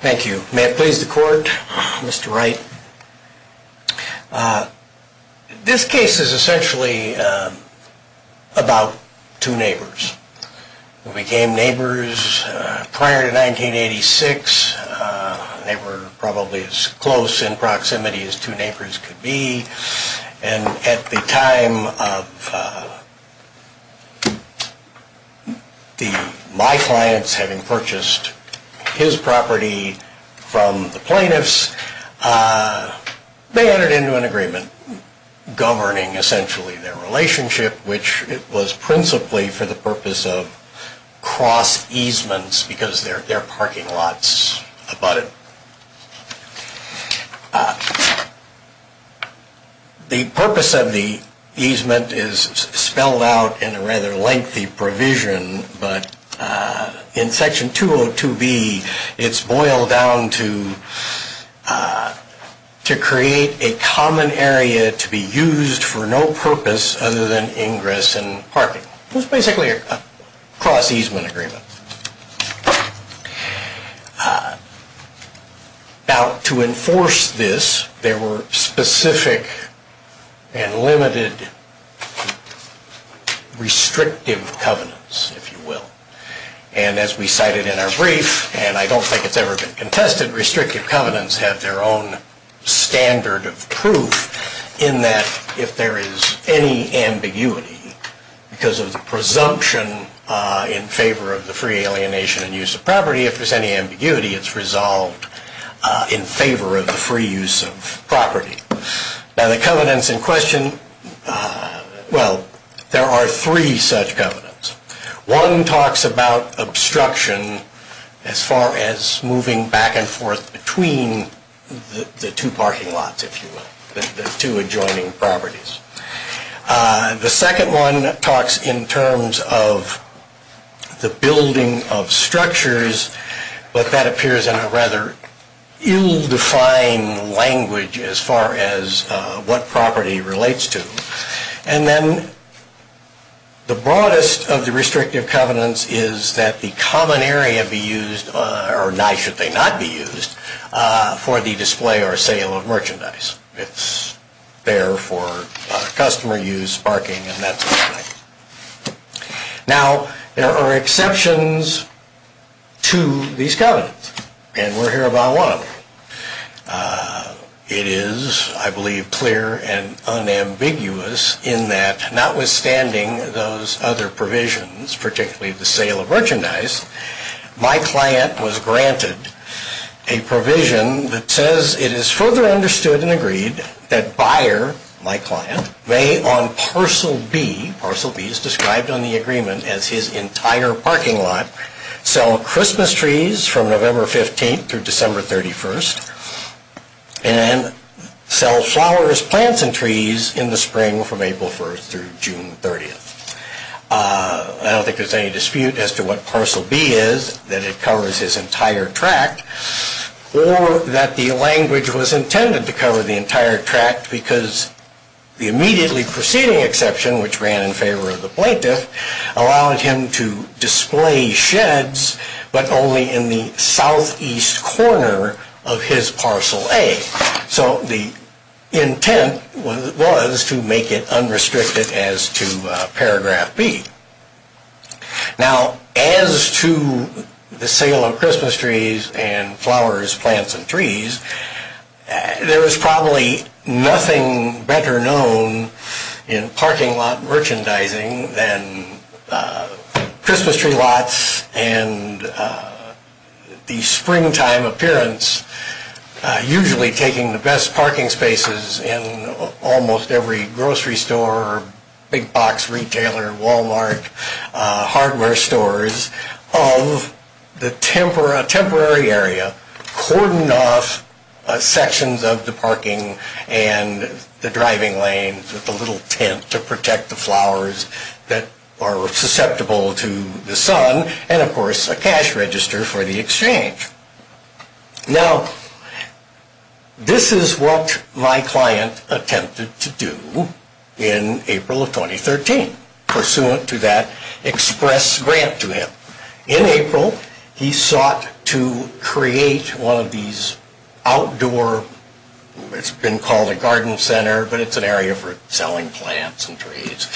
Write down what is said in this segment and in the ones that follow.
Thank you. May it please the court, Mr. Wright. This case is essentially about two neighbors who became neighbors prior to 1986. They were probably as close in proximity as two neighbors could be. And at the time of my clients having purchased his property from the plaintiffs, they entered into an agreement governing essentially their relationship, which was principally for the purpose of cross-easements, because they're parking lots about it. The purpose of the easement is spelled out in a rather lengthy provision, but in Section 202B, it's boiled down to create a common area to be used for no purpose other than ingress and parking. It's basically a cross-easement agreement. Now, to enforce this, there were specific and limited restrictive covenants, if you will. And as we cited in our brief, and I don't think it's ever been contested, restrictive covenants have their own standard of proof in that if there is any ambiguity because of the presumption in favor of the free alienation and use of property, if there's any ambiguity, it's resolved in favor of the free use of property. Now, the covenants in question, well, there are three such covenants. One talks about obstruction as far as moving back and forth between the two parking lots, if you will, the two adjoining properties. The second one talks in terms of the building of structures, but that appears in a rather ill-defined language as far as what property relates to. And then the broadest of the restrictive covenants is that the common area be used, or should they not be used, for the display or sale of merchandise. It's there for customer use, parking, and that sort of thing. Now, there are exceptions to these covenants, and we'll hear about one of them. It is, I believe, clear and unambiguous in that notwithstanding those other provisions, particularly the sale of merchandise, my client was granted a provision that says it is further understood and agreed that buyer, my client, may on parcel B, parcel B is described on the agreement as his entire parking lot, sell Christmas trees from November 15th through December 31st. And sell flowers, plants, and trees in the spring from April 1st through June 30th. I don't think there's any dispute as to what parcel B is, that it covers his entire tract, or that the language was intended to cover the entire tract because the immediately preceding exception, which ran in favor of the plaintiff, allowed him to display sheds, but only in the southeast corner of his parcel A. So the intent was to make it unrestricted as to paragraph B. Now, as to the sale of Christmas trees and flowers, plants, and trees, there is probably nothing better known in parking lot merchandising than Christmas tree lots and the springtime appearance. Usually taking the best parking spaces in almost every grocery store, big box retailer, Walmart, hardware stores of the temporary area, cordoned off sections of the parking and the driving lanes with a little tent to protect the flowers that are susceptible to the sun, and of course a cash register for the exchange. Now, this is what my client attempted to do in April of 2013, pursuant to that express grant to him. In April, he sought to create one of these outdoor, it's been called a garden center, but it's an area for selling plants and trees.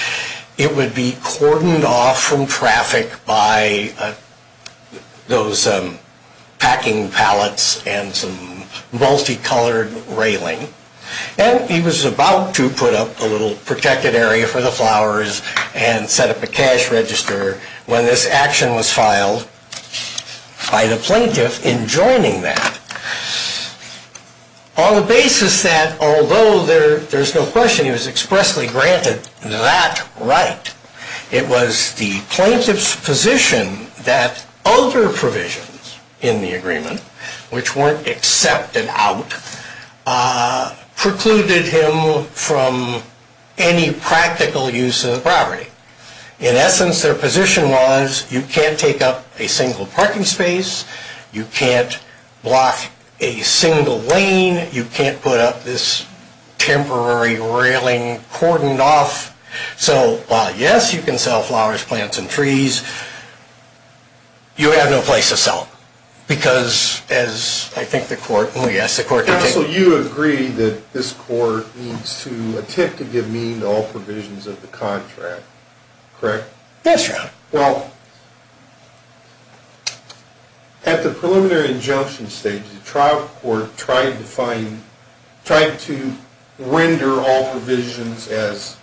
It would be cordoned off from traffic by those packing pallets and some multicolored railing. And he was about to put up a little protected area for the flowers and set up a cash register when this action was filed by the plaintiff in joining that. On the basis that, although there's no question he was expressly granted that right, it was the plaintiff's position that other provisions in the agreement, which weren't accepted out, precluded him from any practical use of the property. In essence, their position was, you can't take up a single parking space, you can't block a single lane, you can't put up this temporary railing cordoned off. So, while yes, you can sell flowers, plants, and trees, you have no place to sell them. Because, as I think the court, oh yes, the court can take... Counsel, you agree that this court needs to attempt to give meaning to all provisions of the contract, correct? Yes, Your Honor. Well, at the preliminary injunction stage, the trial court tried to render all provisions as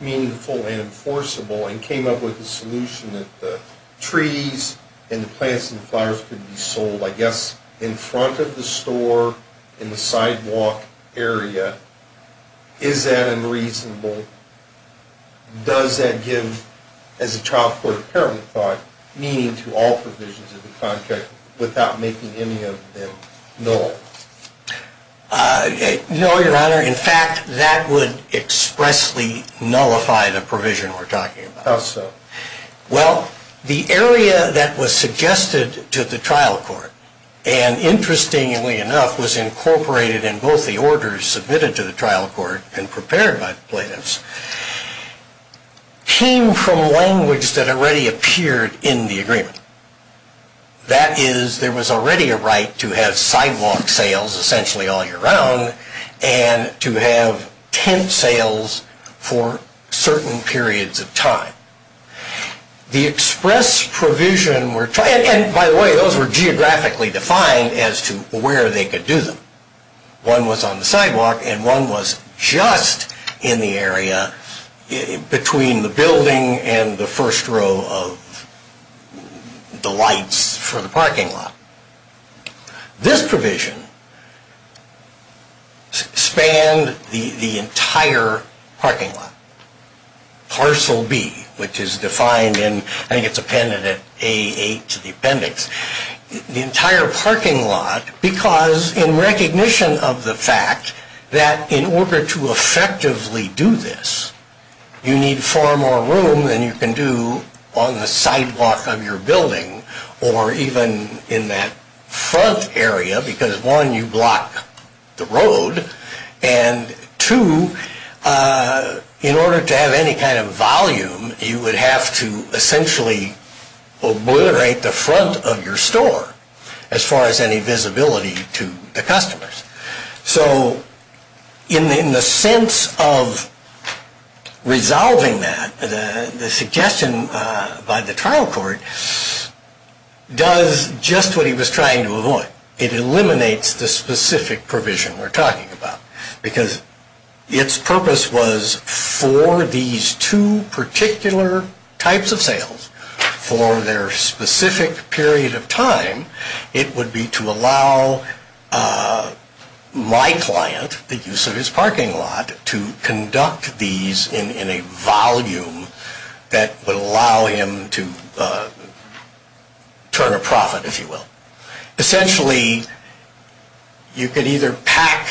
meaningful and enforceable and came up with a solution that the trees and the plants and flowers could be sold, I guess, in front of the store in the sidewalk area. Is that unreasonable? Does that give, as the trial court apparently thought, meaning to all provisions of the contract without making any of them null? No, Your Honor. In fact, that would expressly nullify the provision we're talking about. How so? Well, the area that was suggested to the trial court, and interestingly enough, was incorporated in both the orders submitted to the trial court and prepared by the plaintiffs, came from language that already appeared in the agreement. That is, there was already a right to have sidewalk sales essentially all year round and to have tent sales for certain periods of time. The express provision, and by the way, those were geographically defined as to where they could do them. One was on the sidewalk and one was just in the area between the building and the first row of the lights for the parking lot. This provision spanned the entire parking lot, parcel B, which is defined in, I think it's appended at A8 to the appendix, the entire parking lot because in recognition of the fact that in order to effectively do this, you need far more room than you can do on the sidewalk of your building or even in that front area because one, you block the road, and two, in order to have any kind of volume, you would have to essentially obliterate the front of your store as far as any visibility to the customers. So in the sense of resolving that, the suggestion by the trial court does just what he was trying to avoid. It eliminates the specific provision we're talking about because its purpose was for these two particular types of sales, for their specific period of time, it would be to allow my client, the use of his parking lot, to conduct these in a volume that would allow him to turn a profit, if you will. Essentially, you could either pack,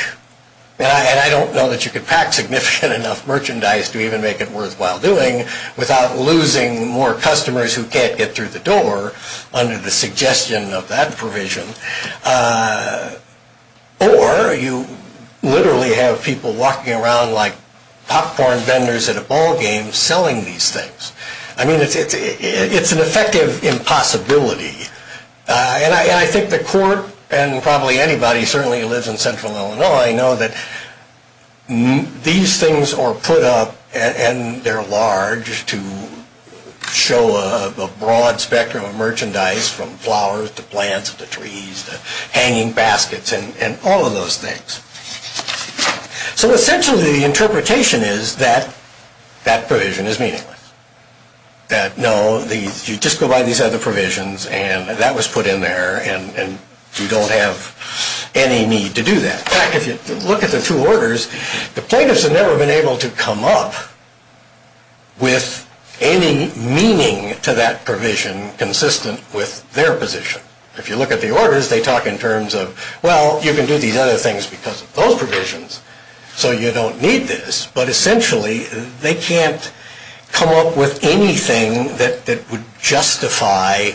and I don't know that you could pack significant enough merchandise to even make it worthwhile doing, without losing more customers who can't get through the door under the suggestion of that provision, or you literally have people walking around like popcorn vendors at a ballgame selling these things. I mean, it's an effective impossibility. And I think the court, and probably anybody who certainly lives in central Illinois, know that these things are put up and they're large to show a broad spectrum of merchandise from flowers to plants to trees to hanging baskets and all of those things. So essentially the interpretation is that that provision is meaningless. That no, you just go by these other provisions and that was put in there and you don't have any need to do that. In fact, if you look at the two orders, the plaintiffs have never been able to come up with any meaning to that provision consistent with their position. If you look at the orders, they talk in terms of, well, you can do these other things because of those provisions, so you don't need this. But essentially, they can't come up with anything that would justify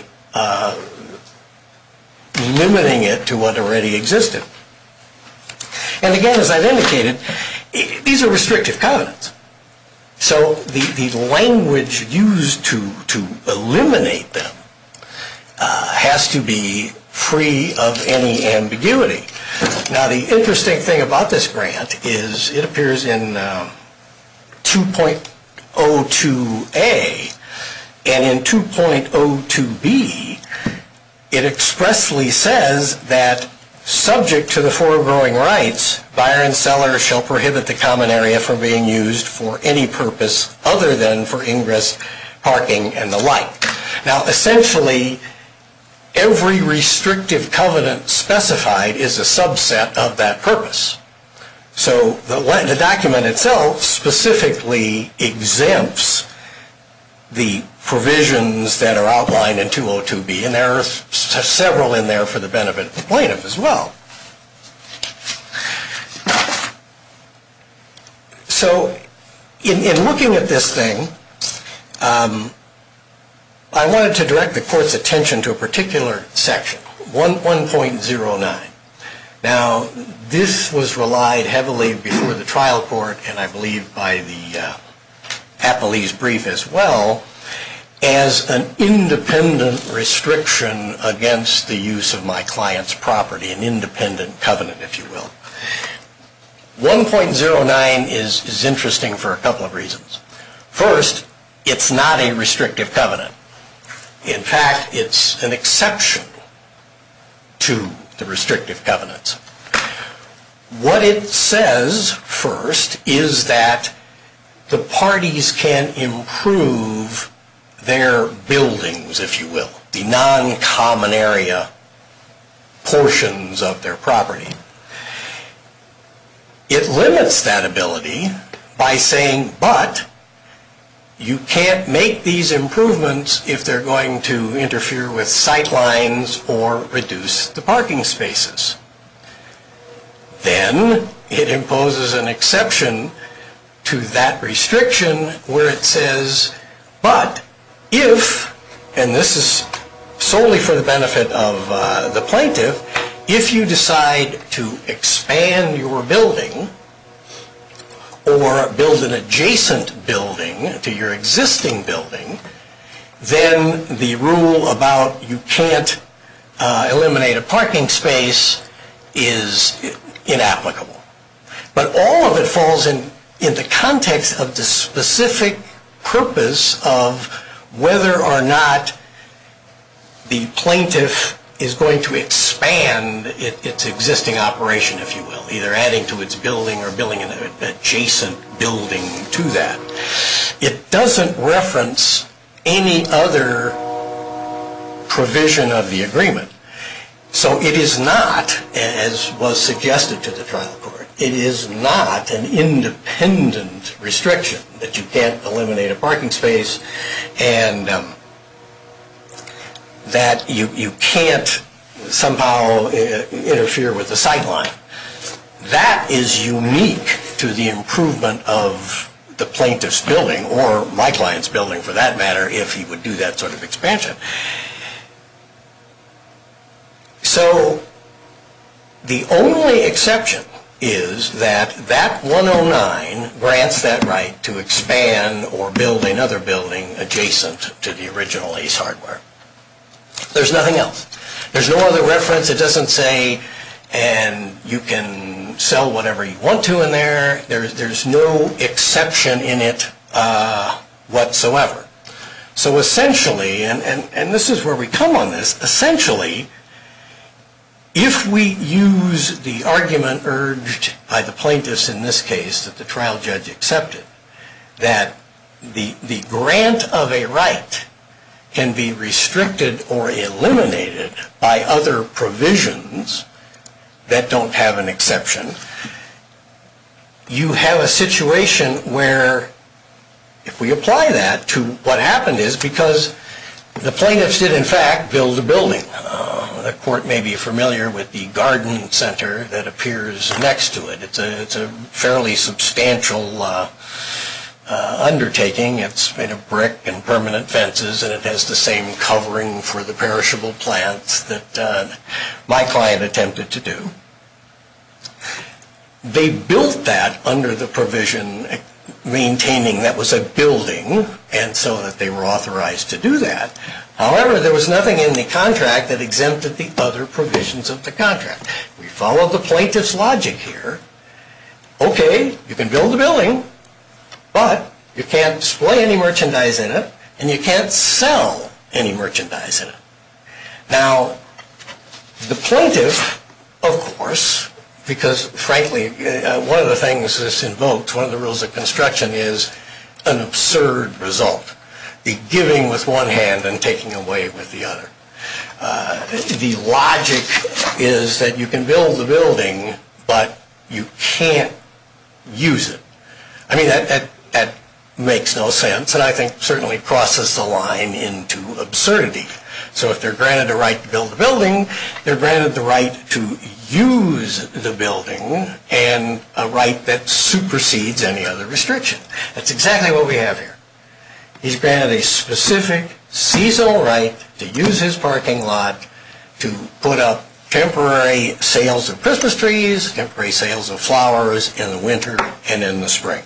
limiting it to what already existed. And again, as I've indicated, these are restrictive covenants. So the language used to eliminate them has to be free of any ambiguity. Now the interesting thing about this grant is it appears in 2.02a and in 2.02b it expressly says that subject to the four growing rights, buyer and seller shall prohibit the common area from being used for any purpose other than for ingress, parking, and the like. Now essentially, every restrictive covenant specified is a subset of that purpose. So the document itself specifically exempts the provisions that are outlined in 2.02b and there are several in there for the benefit of the plaintiff as well. So in looking at this thing, I wanted to direct the court's attention to a particular section, 1.09. Now this was relied heavily before the trial court and I believe by the Applees brief as well as an independent restriction against the use of my client's property, an independent covenant if you will. 1.09 is interesting for a couple of reasons. First, it's not a restrictive covenant. In fact, it's an exception to the restrictive covenants. What it says first is that the parties can improve their buildings if you will, the non-common area portions of their property. It limits that ability by saying but you can't make these improvements if they're going to interfere with sight lines or reduce the parking spaces. Then it imposes an exception to that restriction where it says but if, and this is solely for the benefit of the plaintiff, So if you decide to expand your building or build an adjacent building to your existing building, then the rule about you can't eliminate a parking space is inapplicable. But all of it falls in the context of the specific purpose of whether or not the plaintiff is going to expand its existing operation if you will, either adding to its building or building an adjacent building to that. It doesn't reference any other provision of the agreement. So it is not, as was suggested to the trial court, it is not an independent restriction that you can't eliminate a parking space and that you can't somehow interfere with the sight line. That is unique to the improvement of the plaintiff's building, or my client's building for that matter, if he would do that sort of expansion. So the only exception is that that 109 grants that right to expand or build another building adjacent to the original ACE hardware. There's nothing else. There's no other reference. It doesn't say you can sell whatever you want to in there. There's no exception in it whatsoever. So essentially, and this is where we come on this, essentially, if we use the argument urged by the plaintiffs in this case that the trial judge accepted, that the grant of a right can be restricted or eliminated by other provisions that don't have an exception, you have a situation where if we apply that to what happened is because the plaintiffs did, in fact, build a building. The court may be familiar with the garden center that appears next to it. It's a fairly substantial undertaking. It's made of brick and permanent fences, and it has the same covering for the perishable plants that my client attempted to do. They built that under the provision maintaining that was a building and so that they were authorized to do that. However, there was nothing in the contract that exempted the other provisions of the contract. We follow the plaintiff's logic here. Okay, you can build a building, but you can't display any merchandise in it, and you can't sell any merchandise in it. Now, the plaintiff, of course, because frankly, one of the things this invokes, one of the rules of construction is an absurd result, the giving with one hand and taking away with the other. The logic is that you can build the building, but you can't use it. I mean, that makes no sense, and I think certainly crosses the line into absurdity. So if they're granted a right to build a building, they're granted the right to use the building and a right that supersedes any other restriction. That's exactly what we have here. He's granted a specific seasonal right to use his parking lot to put up temporary sales of Christmas trees, temporary sales of flowers in the winter and in the spring.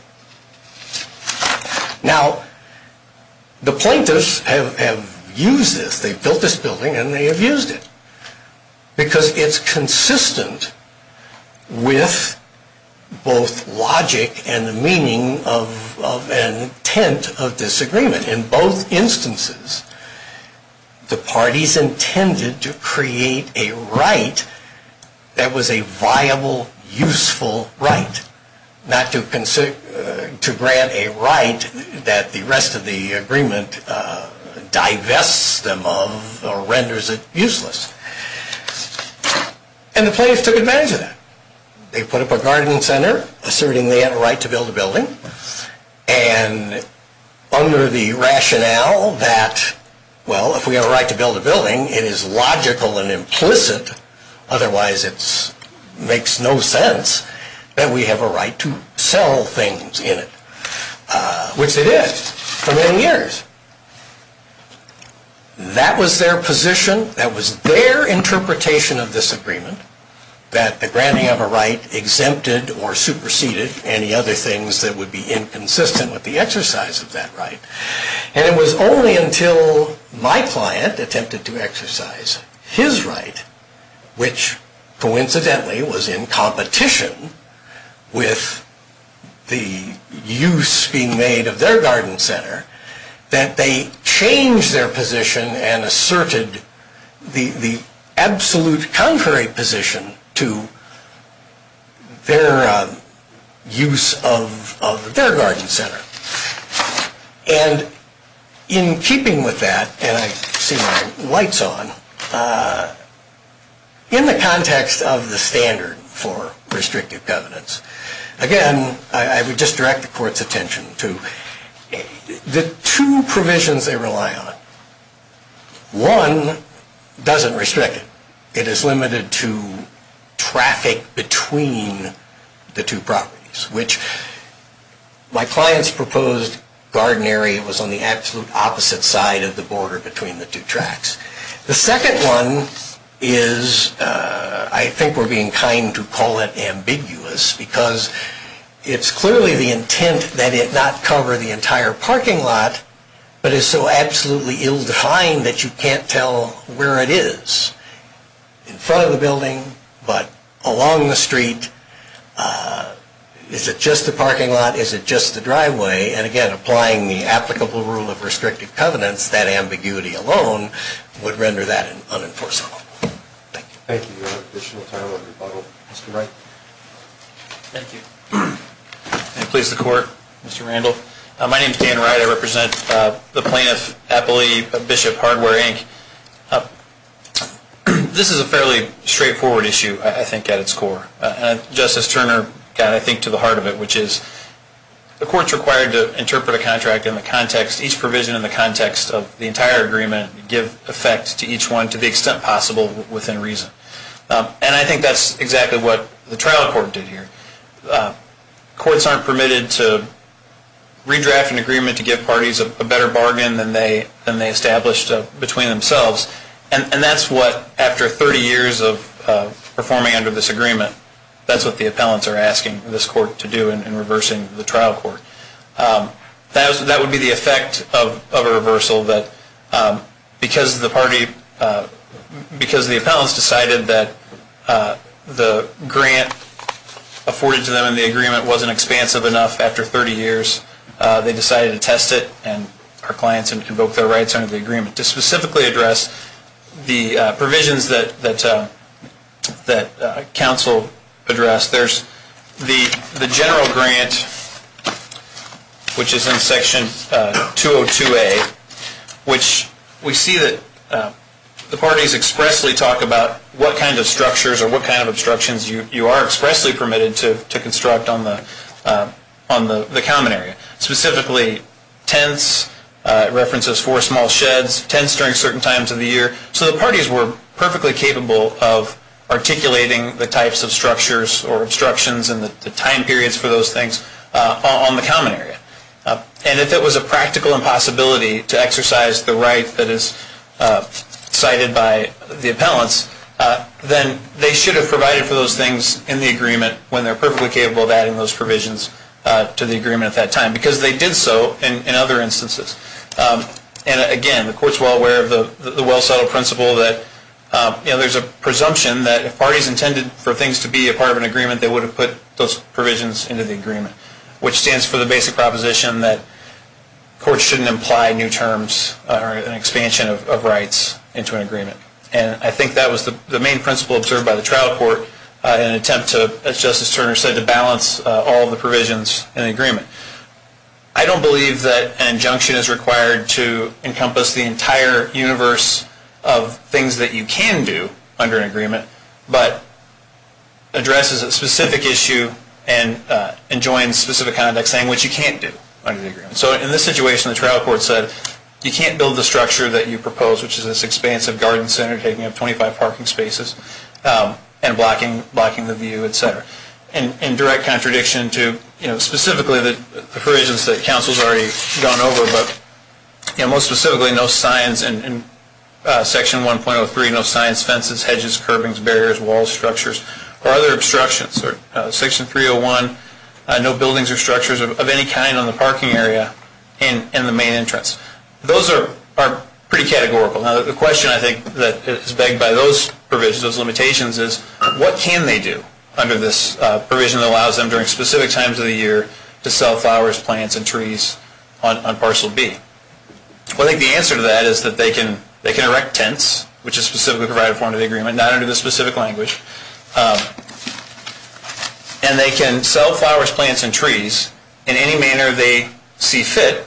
Now, the plaintiffs have used this. They've built this building, and they have used it because it's consistent with both logic and the meaning of intent of disagreement. In both instances, the parties intended to create a right that was a viable, useful right, not to grant a right that the rest of the agreement divests them of or renders it useless. And the plaintiffs took advantage of that. They put up a garden center, asserting they have a right to build a building, and under the rationale that, well, if we have a right to build a building, it is logical and implicit. Otherwise, it makes no sense that we have a right to sell things in it, which it is for many years. That was their position. That was their interpretation of this agreement, that the granting of a right exempted or superseded any other things that would be inconsistent with the exercise of that right. And it was only until my client attempted to exercise his right, which coincidentally was in competition with the use being made of their garden center, that they changed their position and asserted the absolute contrary position to their use of their garden center. And in keeping with that, and I see my lights on, in the context of the standard for restrictive covenants, again, I would just direct the court's attention to the two provisions they rely on. One doesn't restrict it. It is limited to traffic between the two properties, which my client's proposed garden area was on the absolute opposite side of the border between the two tracks. The second one is, I think we're being kind to call it ambiguous, because it's clearly the intent that it not cover the entire parking lot, but is so absolutely ill-defined that you can't tell where it is. You can't tell if it's in front of the building, but along the street, is it just the parking lot, is it just the driveway? And again, applying the applicable rule of restrictive covenants, that ambiguity alone would render that unenforceable. Thank you. Thank you. Additional time on rebuttal. Mr. Wright. Thank you. And please, the court. Mr. Randall. My name is Dan Wright. I represent the plaintiff, appellee, Bishop Hardware, Inc. This is a fairly straightforward issue, I think, at its core. Justice Turner got, I think, to the heart of it, which is the court's required to interpret a contract in the context, each provision in the context of the entire agreement, give effect to each one to the extent possible within reason. And I think that's exactly what the trial court did here. Courts aren't permitted to redraft an agreement to give parties a better bargain than they established between themselves. And that's what, after 30 years of performing under this agreement, that's what the appellants are asking this court to do in reversing the trial court. That would be the effect of a reversal that, because the party, because the appellants decided that the grant afforded to them in the agreement wasn't expansive enough after 30 years, they decided to test it and our clients and invoke their rights under the agreement. And to specifically address the provisions that counsel addressed, there's the general grant, which is in section 202A, which we see that the parties expressly talk about what kind of structures or what kind of obstructions you are expressly permitted to construct on the common area. Specifically, tents, references for small sheds, tents during certain times of the year. So the parties were perfectly capable of articulating the types of structures or obstructions and the time periods for those things on the common area. And if it was a practical impossibility to exercise the right that is cited by the appellants, then they should have provided for those things in the agreement when they're perfectly capable of adding those provisions to the agreement at that time. Because they did so in other instances. And again, the court's well aware of the well-settled principle that there's a presumption that if parties intended for things to be a part of an agreement, they would have put those provisions into the agreement, which stands for the basic proposition that courts shouldn't imply new terms or an expansion of rights into an agreement. And I think that was the main principle observed by the trial court in an attempt to, as Justice Turner said, to balance all the provisions in the agreement. I don't believe that an injunction is required to encompass the entire universe of things that you can do under an agreement, but addresses a specific issue and joins specific context saying what you can't do under the agreement. So in this situation, the trial court said you can't build the structure that you proposed, which is this expansive garden center taking up 25 parking spaces and blocking the view, etc. In direct contradiction to specifically the provisions that counsel has already gone over, but most specifically no signs in Section 1.03, no signs, fences, hedges, curbings, barriers, walls, structures, or other obstructions. Section 301, no buildings or structures of any kind on the parking area and the main entrance. Those are pretty categorical. Now the question I think that is begged by those provisions, those limitations, is what can they do under this provision that allows them during specific times of the year to sell flowers, plants, and trees on Parcel B? Well, I think the answer to that is that they can erect tents, which is specifically provided for under the agreement, not under the specific language. And they can sell flowers, plants, and trees in any manner they see fit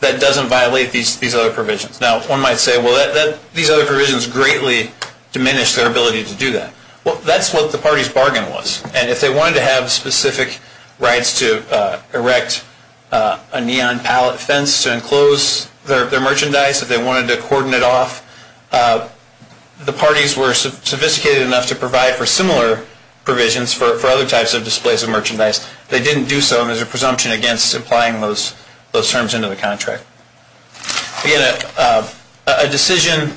that doesn't violate these other provisions. Now one might say, well, these other provisions greatly diminish their ability to do that. Well, that's what the party's bargain was. And if they wanted to have specific rights to erect a neon pallet fence to enclose their merchandise, if they wanted to cordon it off, the parties were sophisticated enough to provide for similar provisions for other types of displays of merchandise. They didn't do so as a presumption against applying those terms into the contract. Again, a decision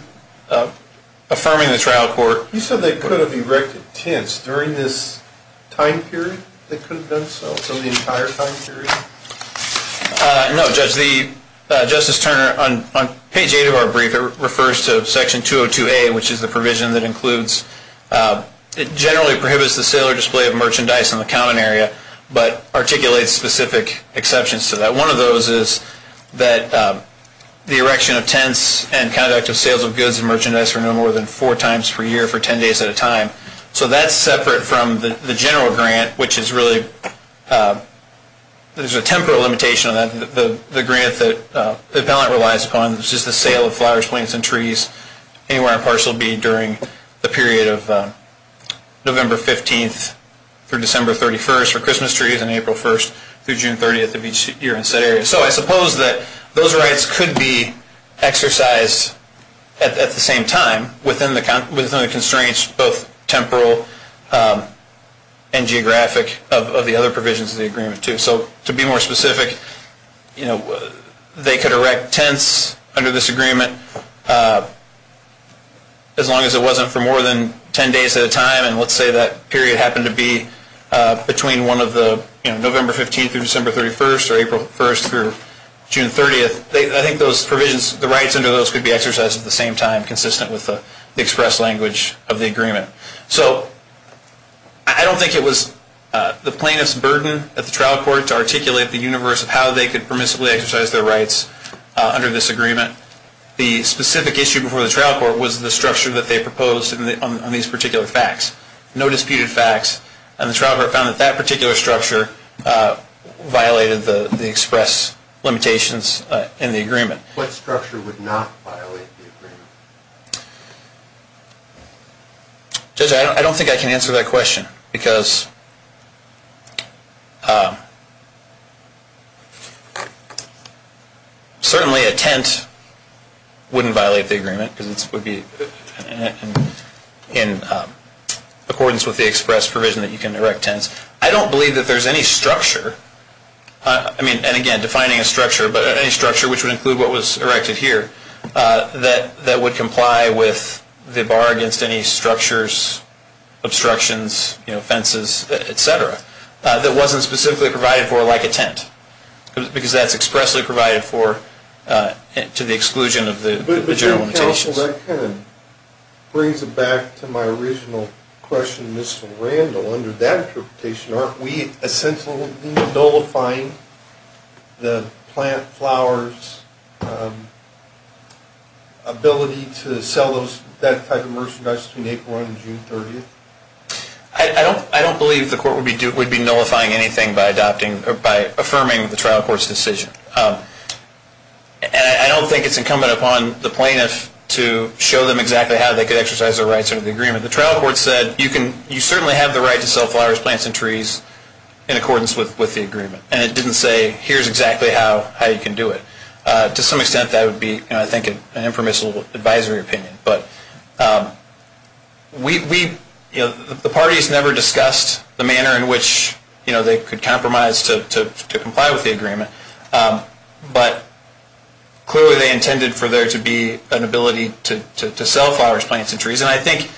affirming the trial court. You said they could have erected tents during this time period? They could have done so for the entire time period? No, Judge. Justice Turner, on page 8 of our brief, it refers to Section 202A, which is the provision that includes, generally prohibits the sale or display of merchandise in the common area, but articulates specific exceptions to that. One of those is that the erection of tents and conduct of sales of goods and merchandise are no more than four times per year for ten days at a time. So that's separate from the general grant, which is really, there's a temporal limitation on that. The grant that the appellant relies upon is just the sale of flowers, plants, and trees anywhere in Partial B during the period of November 15th through December 31st for Christmas trees and April 1st through June 30th of each year in said area. So I suppose that those rights could be exercised at the same time within the constraints, both temporal and geographic, of the other provisions of the agreement, too. So to be more specific, they could erect tents under this agreement as long as it wasn't for more than ten days at a time. And let's say that period happened to be between one of the November 15th through December 31st or April 1st through June 30th. I think those provisions, the rights under those could be exercised at the same time, consistent with the express language of the agreement. So I don't think it was the plaintiff's burden at the trial court to articulate the universe of how they could permissibly exercise their rights under this agreement. The specific issue before the trial court was the structure that they proposed on these particular facts. No disputed facts. And the trial court found that that particular structure violated the express limitations in the agreement. What structure would not violate the agreement? Judge, I don't think I can answer that question because certainly a tent wouldn't violate the agreement because it would be in accordance with the express provision that you can erect tents. I don't believe that there's any structure, and again, defining a structure, but any structure which would include what was erected here that would comply with the bar against any structures, obstructions, fences, et cetera, that wasn't specifically provided for like a tent. Because that's expressly provided for to the exclusion of the general limitations. Well, that kind of brings it back to my original question, Mr. Randall. Under that interpretation, aren't we essentially nullifying the plant flower's ability to sell that type of merchandise between April 1 and June 30? I don't believe the court would be nullifying anything by affirming the trial court's decision. And I don't think it's incumbent upon the plaintiff to show them exactly how they could exercise their rights under the agreement. The trial court said you certainly have the right to sell flowers, plants, and trees in accordance with the agreement. And it didn't say here's exactly how you can do it. To some extent, that would be, I think, an impermissible advisory opinion. But the parties never discussed the manner in which they could compromise to comply with the agreement. But clearly, they intended for there to be an ability to sell flowers, plants, and trees. And I think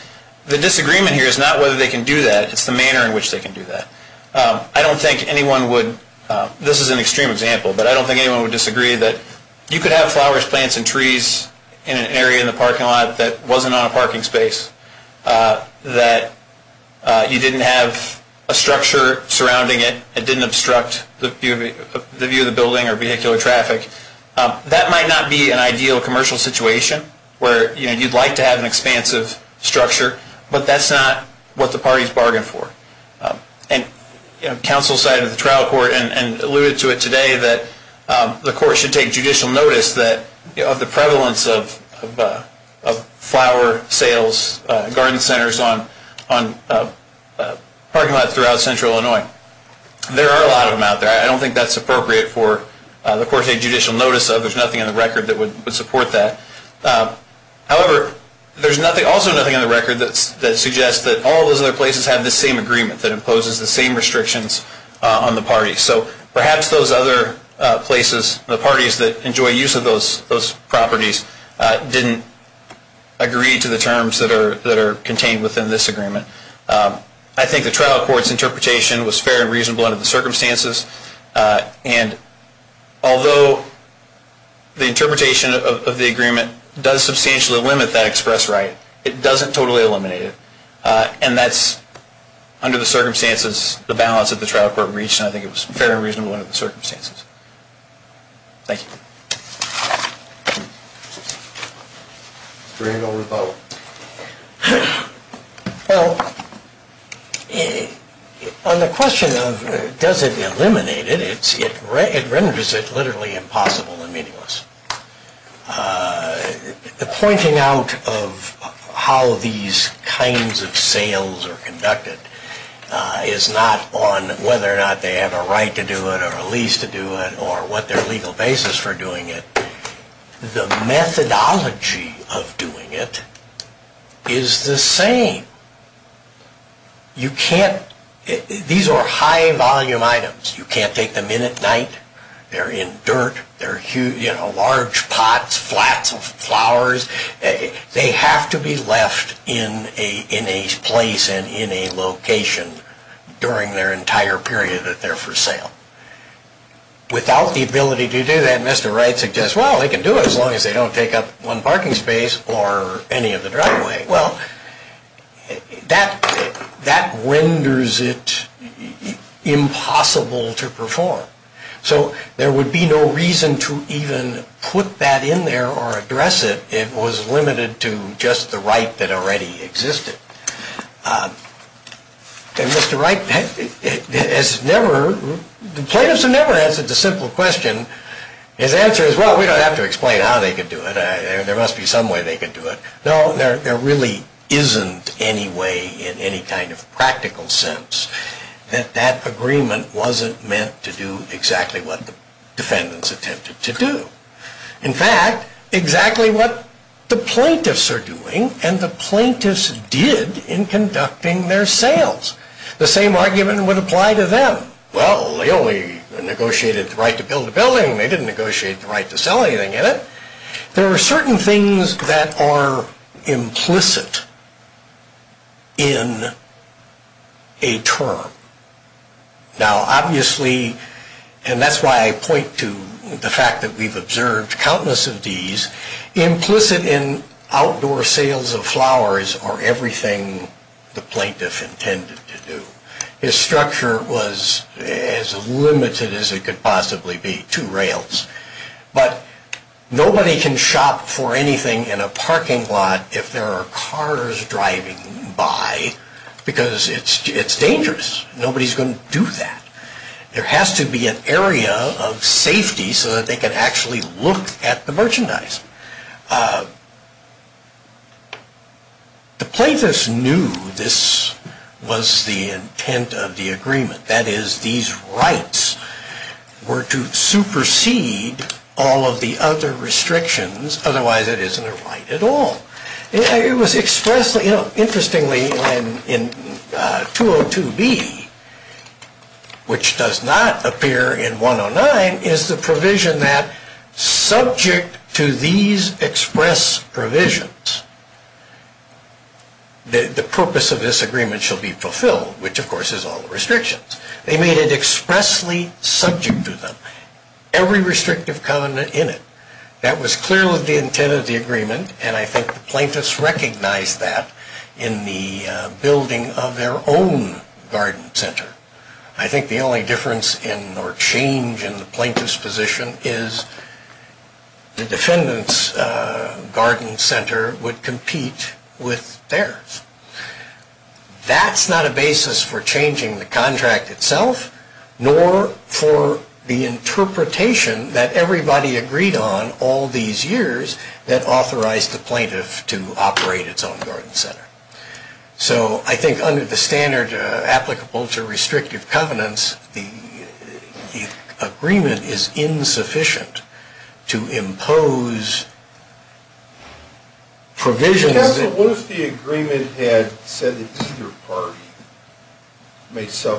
the disagreement here is not whether they can do that. It's the manner in which they can do that. I don't think anyone would, this is an extreme example, but I don't think anyone would disagree that you could have flowers, plants, and trees in an area in the parking lot that wasn't on a parking space. That you didn't have a structure surrounding it. It didn't obstruct the view of the building or vehicular traffic. That might not be an ideal commercial situation where you'd like to have an expansive structure. But that's not what the parties bargained for. And counsel cited the trial court and alluded to it today that the court should take judicial notice of the prevalence of flower sales, garden centers on parking lots throughout central Illinois. There are a lot of them out there. I don't think that's appropriate for the court to take judicial notice of. There's nothing in the record that would support that. However, there's also nothing in the record that suggests that all those other places have the same agreement that imposes the same restrictions on the parties. So perhaps those other places, the parties that enjoy use of those properties, didn't agree to the terms that are contained within this agreement. I think the trial court's interpretation was fair and reasonable under the circumstances. And although the interpretation of the agreement does substantially limit that express right, it doesn't totally eliminate it. And that's, under the circumstances, the balance that the trial court reached. And I think it was fair and reasonable under the circumstances. Thank you. Well, on the question of does it eliminate it, it renders it literally impossible and meaningless. The pointing out of how these kinds of sales are conducted is not on whether or not they have a right to do it or a lease to do it or what their legal basis for doing it. The methodology of doing it is the same. You can't, these are high volume items. You can't take them in at night. They're in dirt. They're huge, you know, large pots, flats, flowers. They have to be left in a place and in a location during their entire period that they're for sale. Without the ability to do that, Mr. Wright suggests, well, they can do it as long as they don't take up one parking space or any of the driveway. Well, that renders it impossible to perform. So there would be no reason to even put that in there or address it. It was limited to just the right that already existed. And Mr. Wright has never, plaintiffs have never answered the simple question. His answer is, well, we don't have to explain how they could do it. There must be some way they could do it. No, there really isn't any way in any kind of practical sense that that agreement wasn't meant to do exactly what the defendants attempted to do. In fact, exactly what the plaintiffs are doing and the plaintiffs did in conducting their sales. The same argument would apply to them. Well, they only negotiated the right to build a building. They didn't negotiate the right to sell anything in it. There are certain things that are implicit in a term. Now, obviously, and that's why I point to the fact that we've observed countless of these, implicit in outdoor sales of flowers are everything the plaintiff intended to do. His structure was as limited as it could possibly be, two rails. But nobody can shop for anything in a parking lot if there are cars driving by because it's dangerous. Nobody's going to do that. There has to be an area of safety so that they can actually look at the merchandise. The plaintiffs knew this was the intent of the agreement. That is, these rights were to supersede all of the other restrictions. Otherwise, it isn't a right at all. Interestingly, in 202B, which does not appear in 109, is the provision that subject to these express provisions, the purpose of this agreement shall be fulfilled, which, of course, is all the restrictions. They made it expressly subject to them, every restrictive covenant in it. That was clearly the intent of the agreement, and I think the plaintiffs recognized that in the building of their own garden center. I think the only difference in or change in the plaintiff's position is the defendant's garden center would compete with theirs. That's not a basis for changing the contract itself, nor for the interpretation that everybody agreed on all these years that authorized the plaintiff to operate its own garden center. I think under the standard applicable to restrictive covenants, the agreement is insufficient to impose provisions. Counsel, what if the agreement had said that either party may sell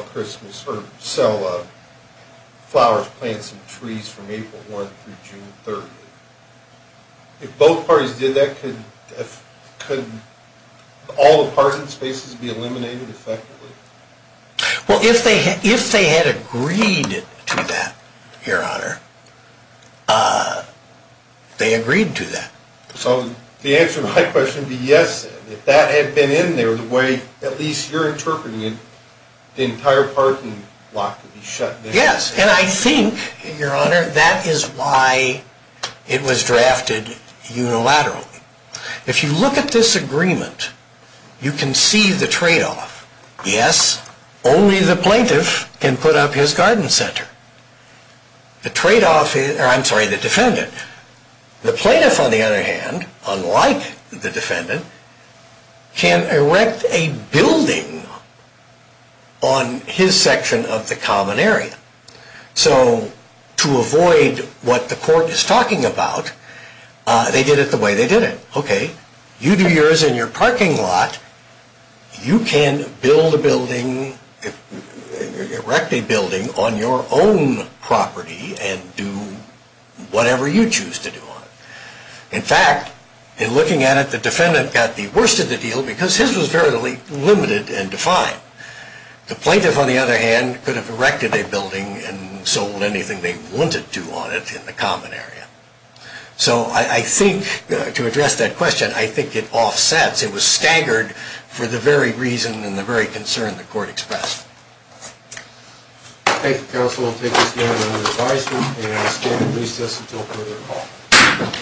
flowers, plants, and trees from April 1 through June 30? If both parties did that, could all the parking spaces be eliminated effectively? Well, if they had agreed to that, Your Honor, they agreed to that. So the answer to my question would be yes. If that had been in there the way at least you're interpreting it, the entire parking lot could be shut down. Yes, and I think, Your Honor, that is why it was drafted unilaterally. If you look at this agreement, you can see the tradeoff. Yes, only the plaintiff can put up his garden center. The plaintiff, on the other hand, unlike the defendant, can erect a building on his section of the common area. So to avoid what the court is talking about, they did it the way they did it. Okay, you do yours in your parking lot. You can build a building, erect a building on your own property and do whatever you choose to do on it. In fact, in looking at it, the defendant got the worst of the deal because his was very limited and defined. The plaintiff, on the other hand, could have erected a building and sold anything they wanted to on it in the common area. So I think, to address that question, I think it offsets. It was staggered for the very reason and the very concern the court expressed. Thank you, counsel. We'll take this hearing under advisement and stand at recess until further call.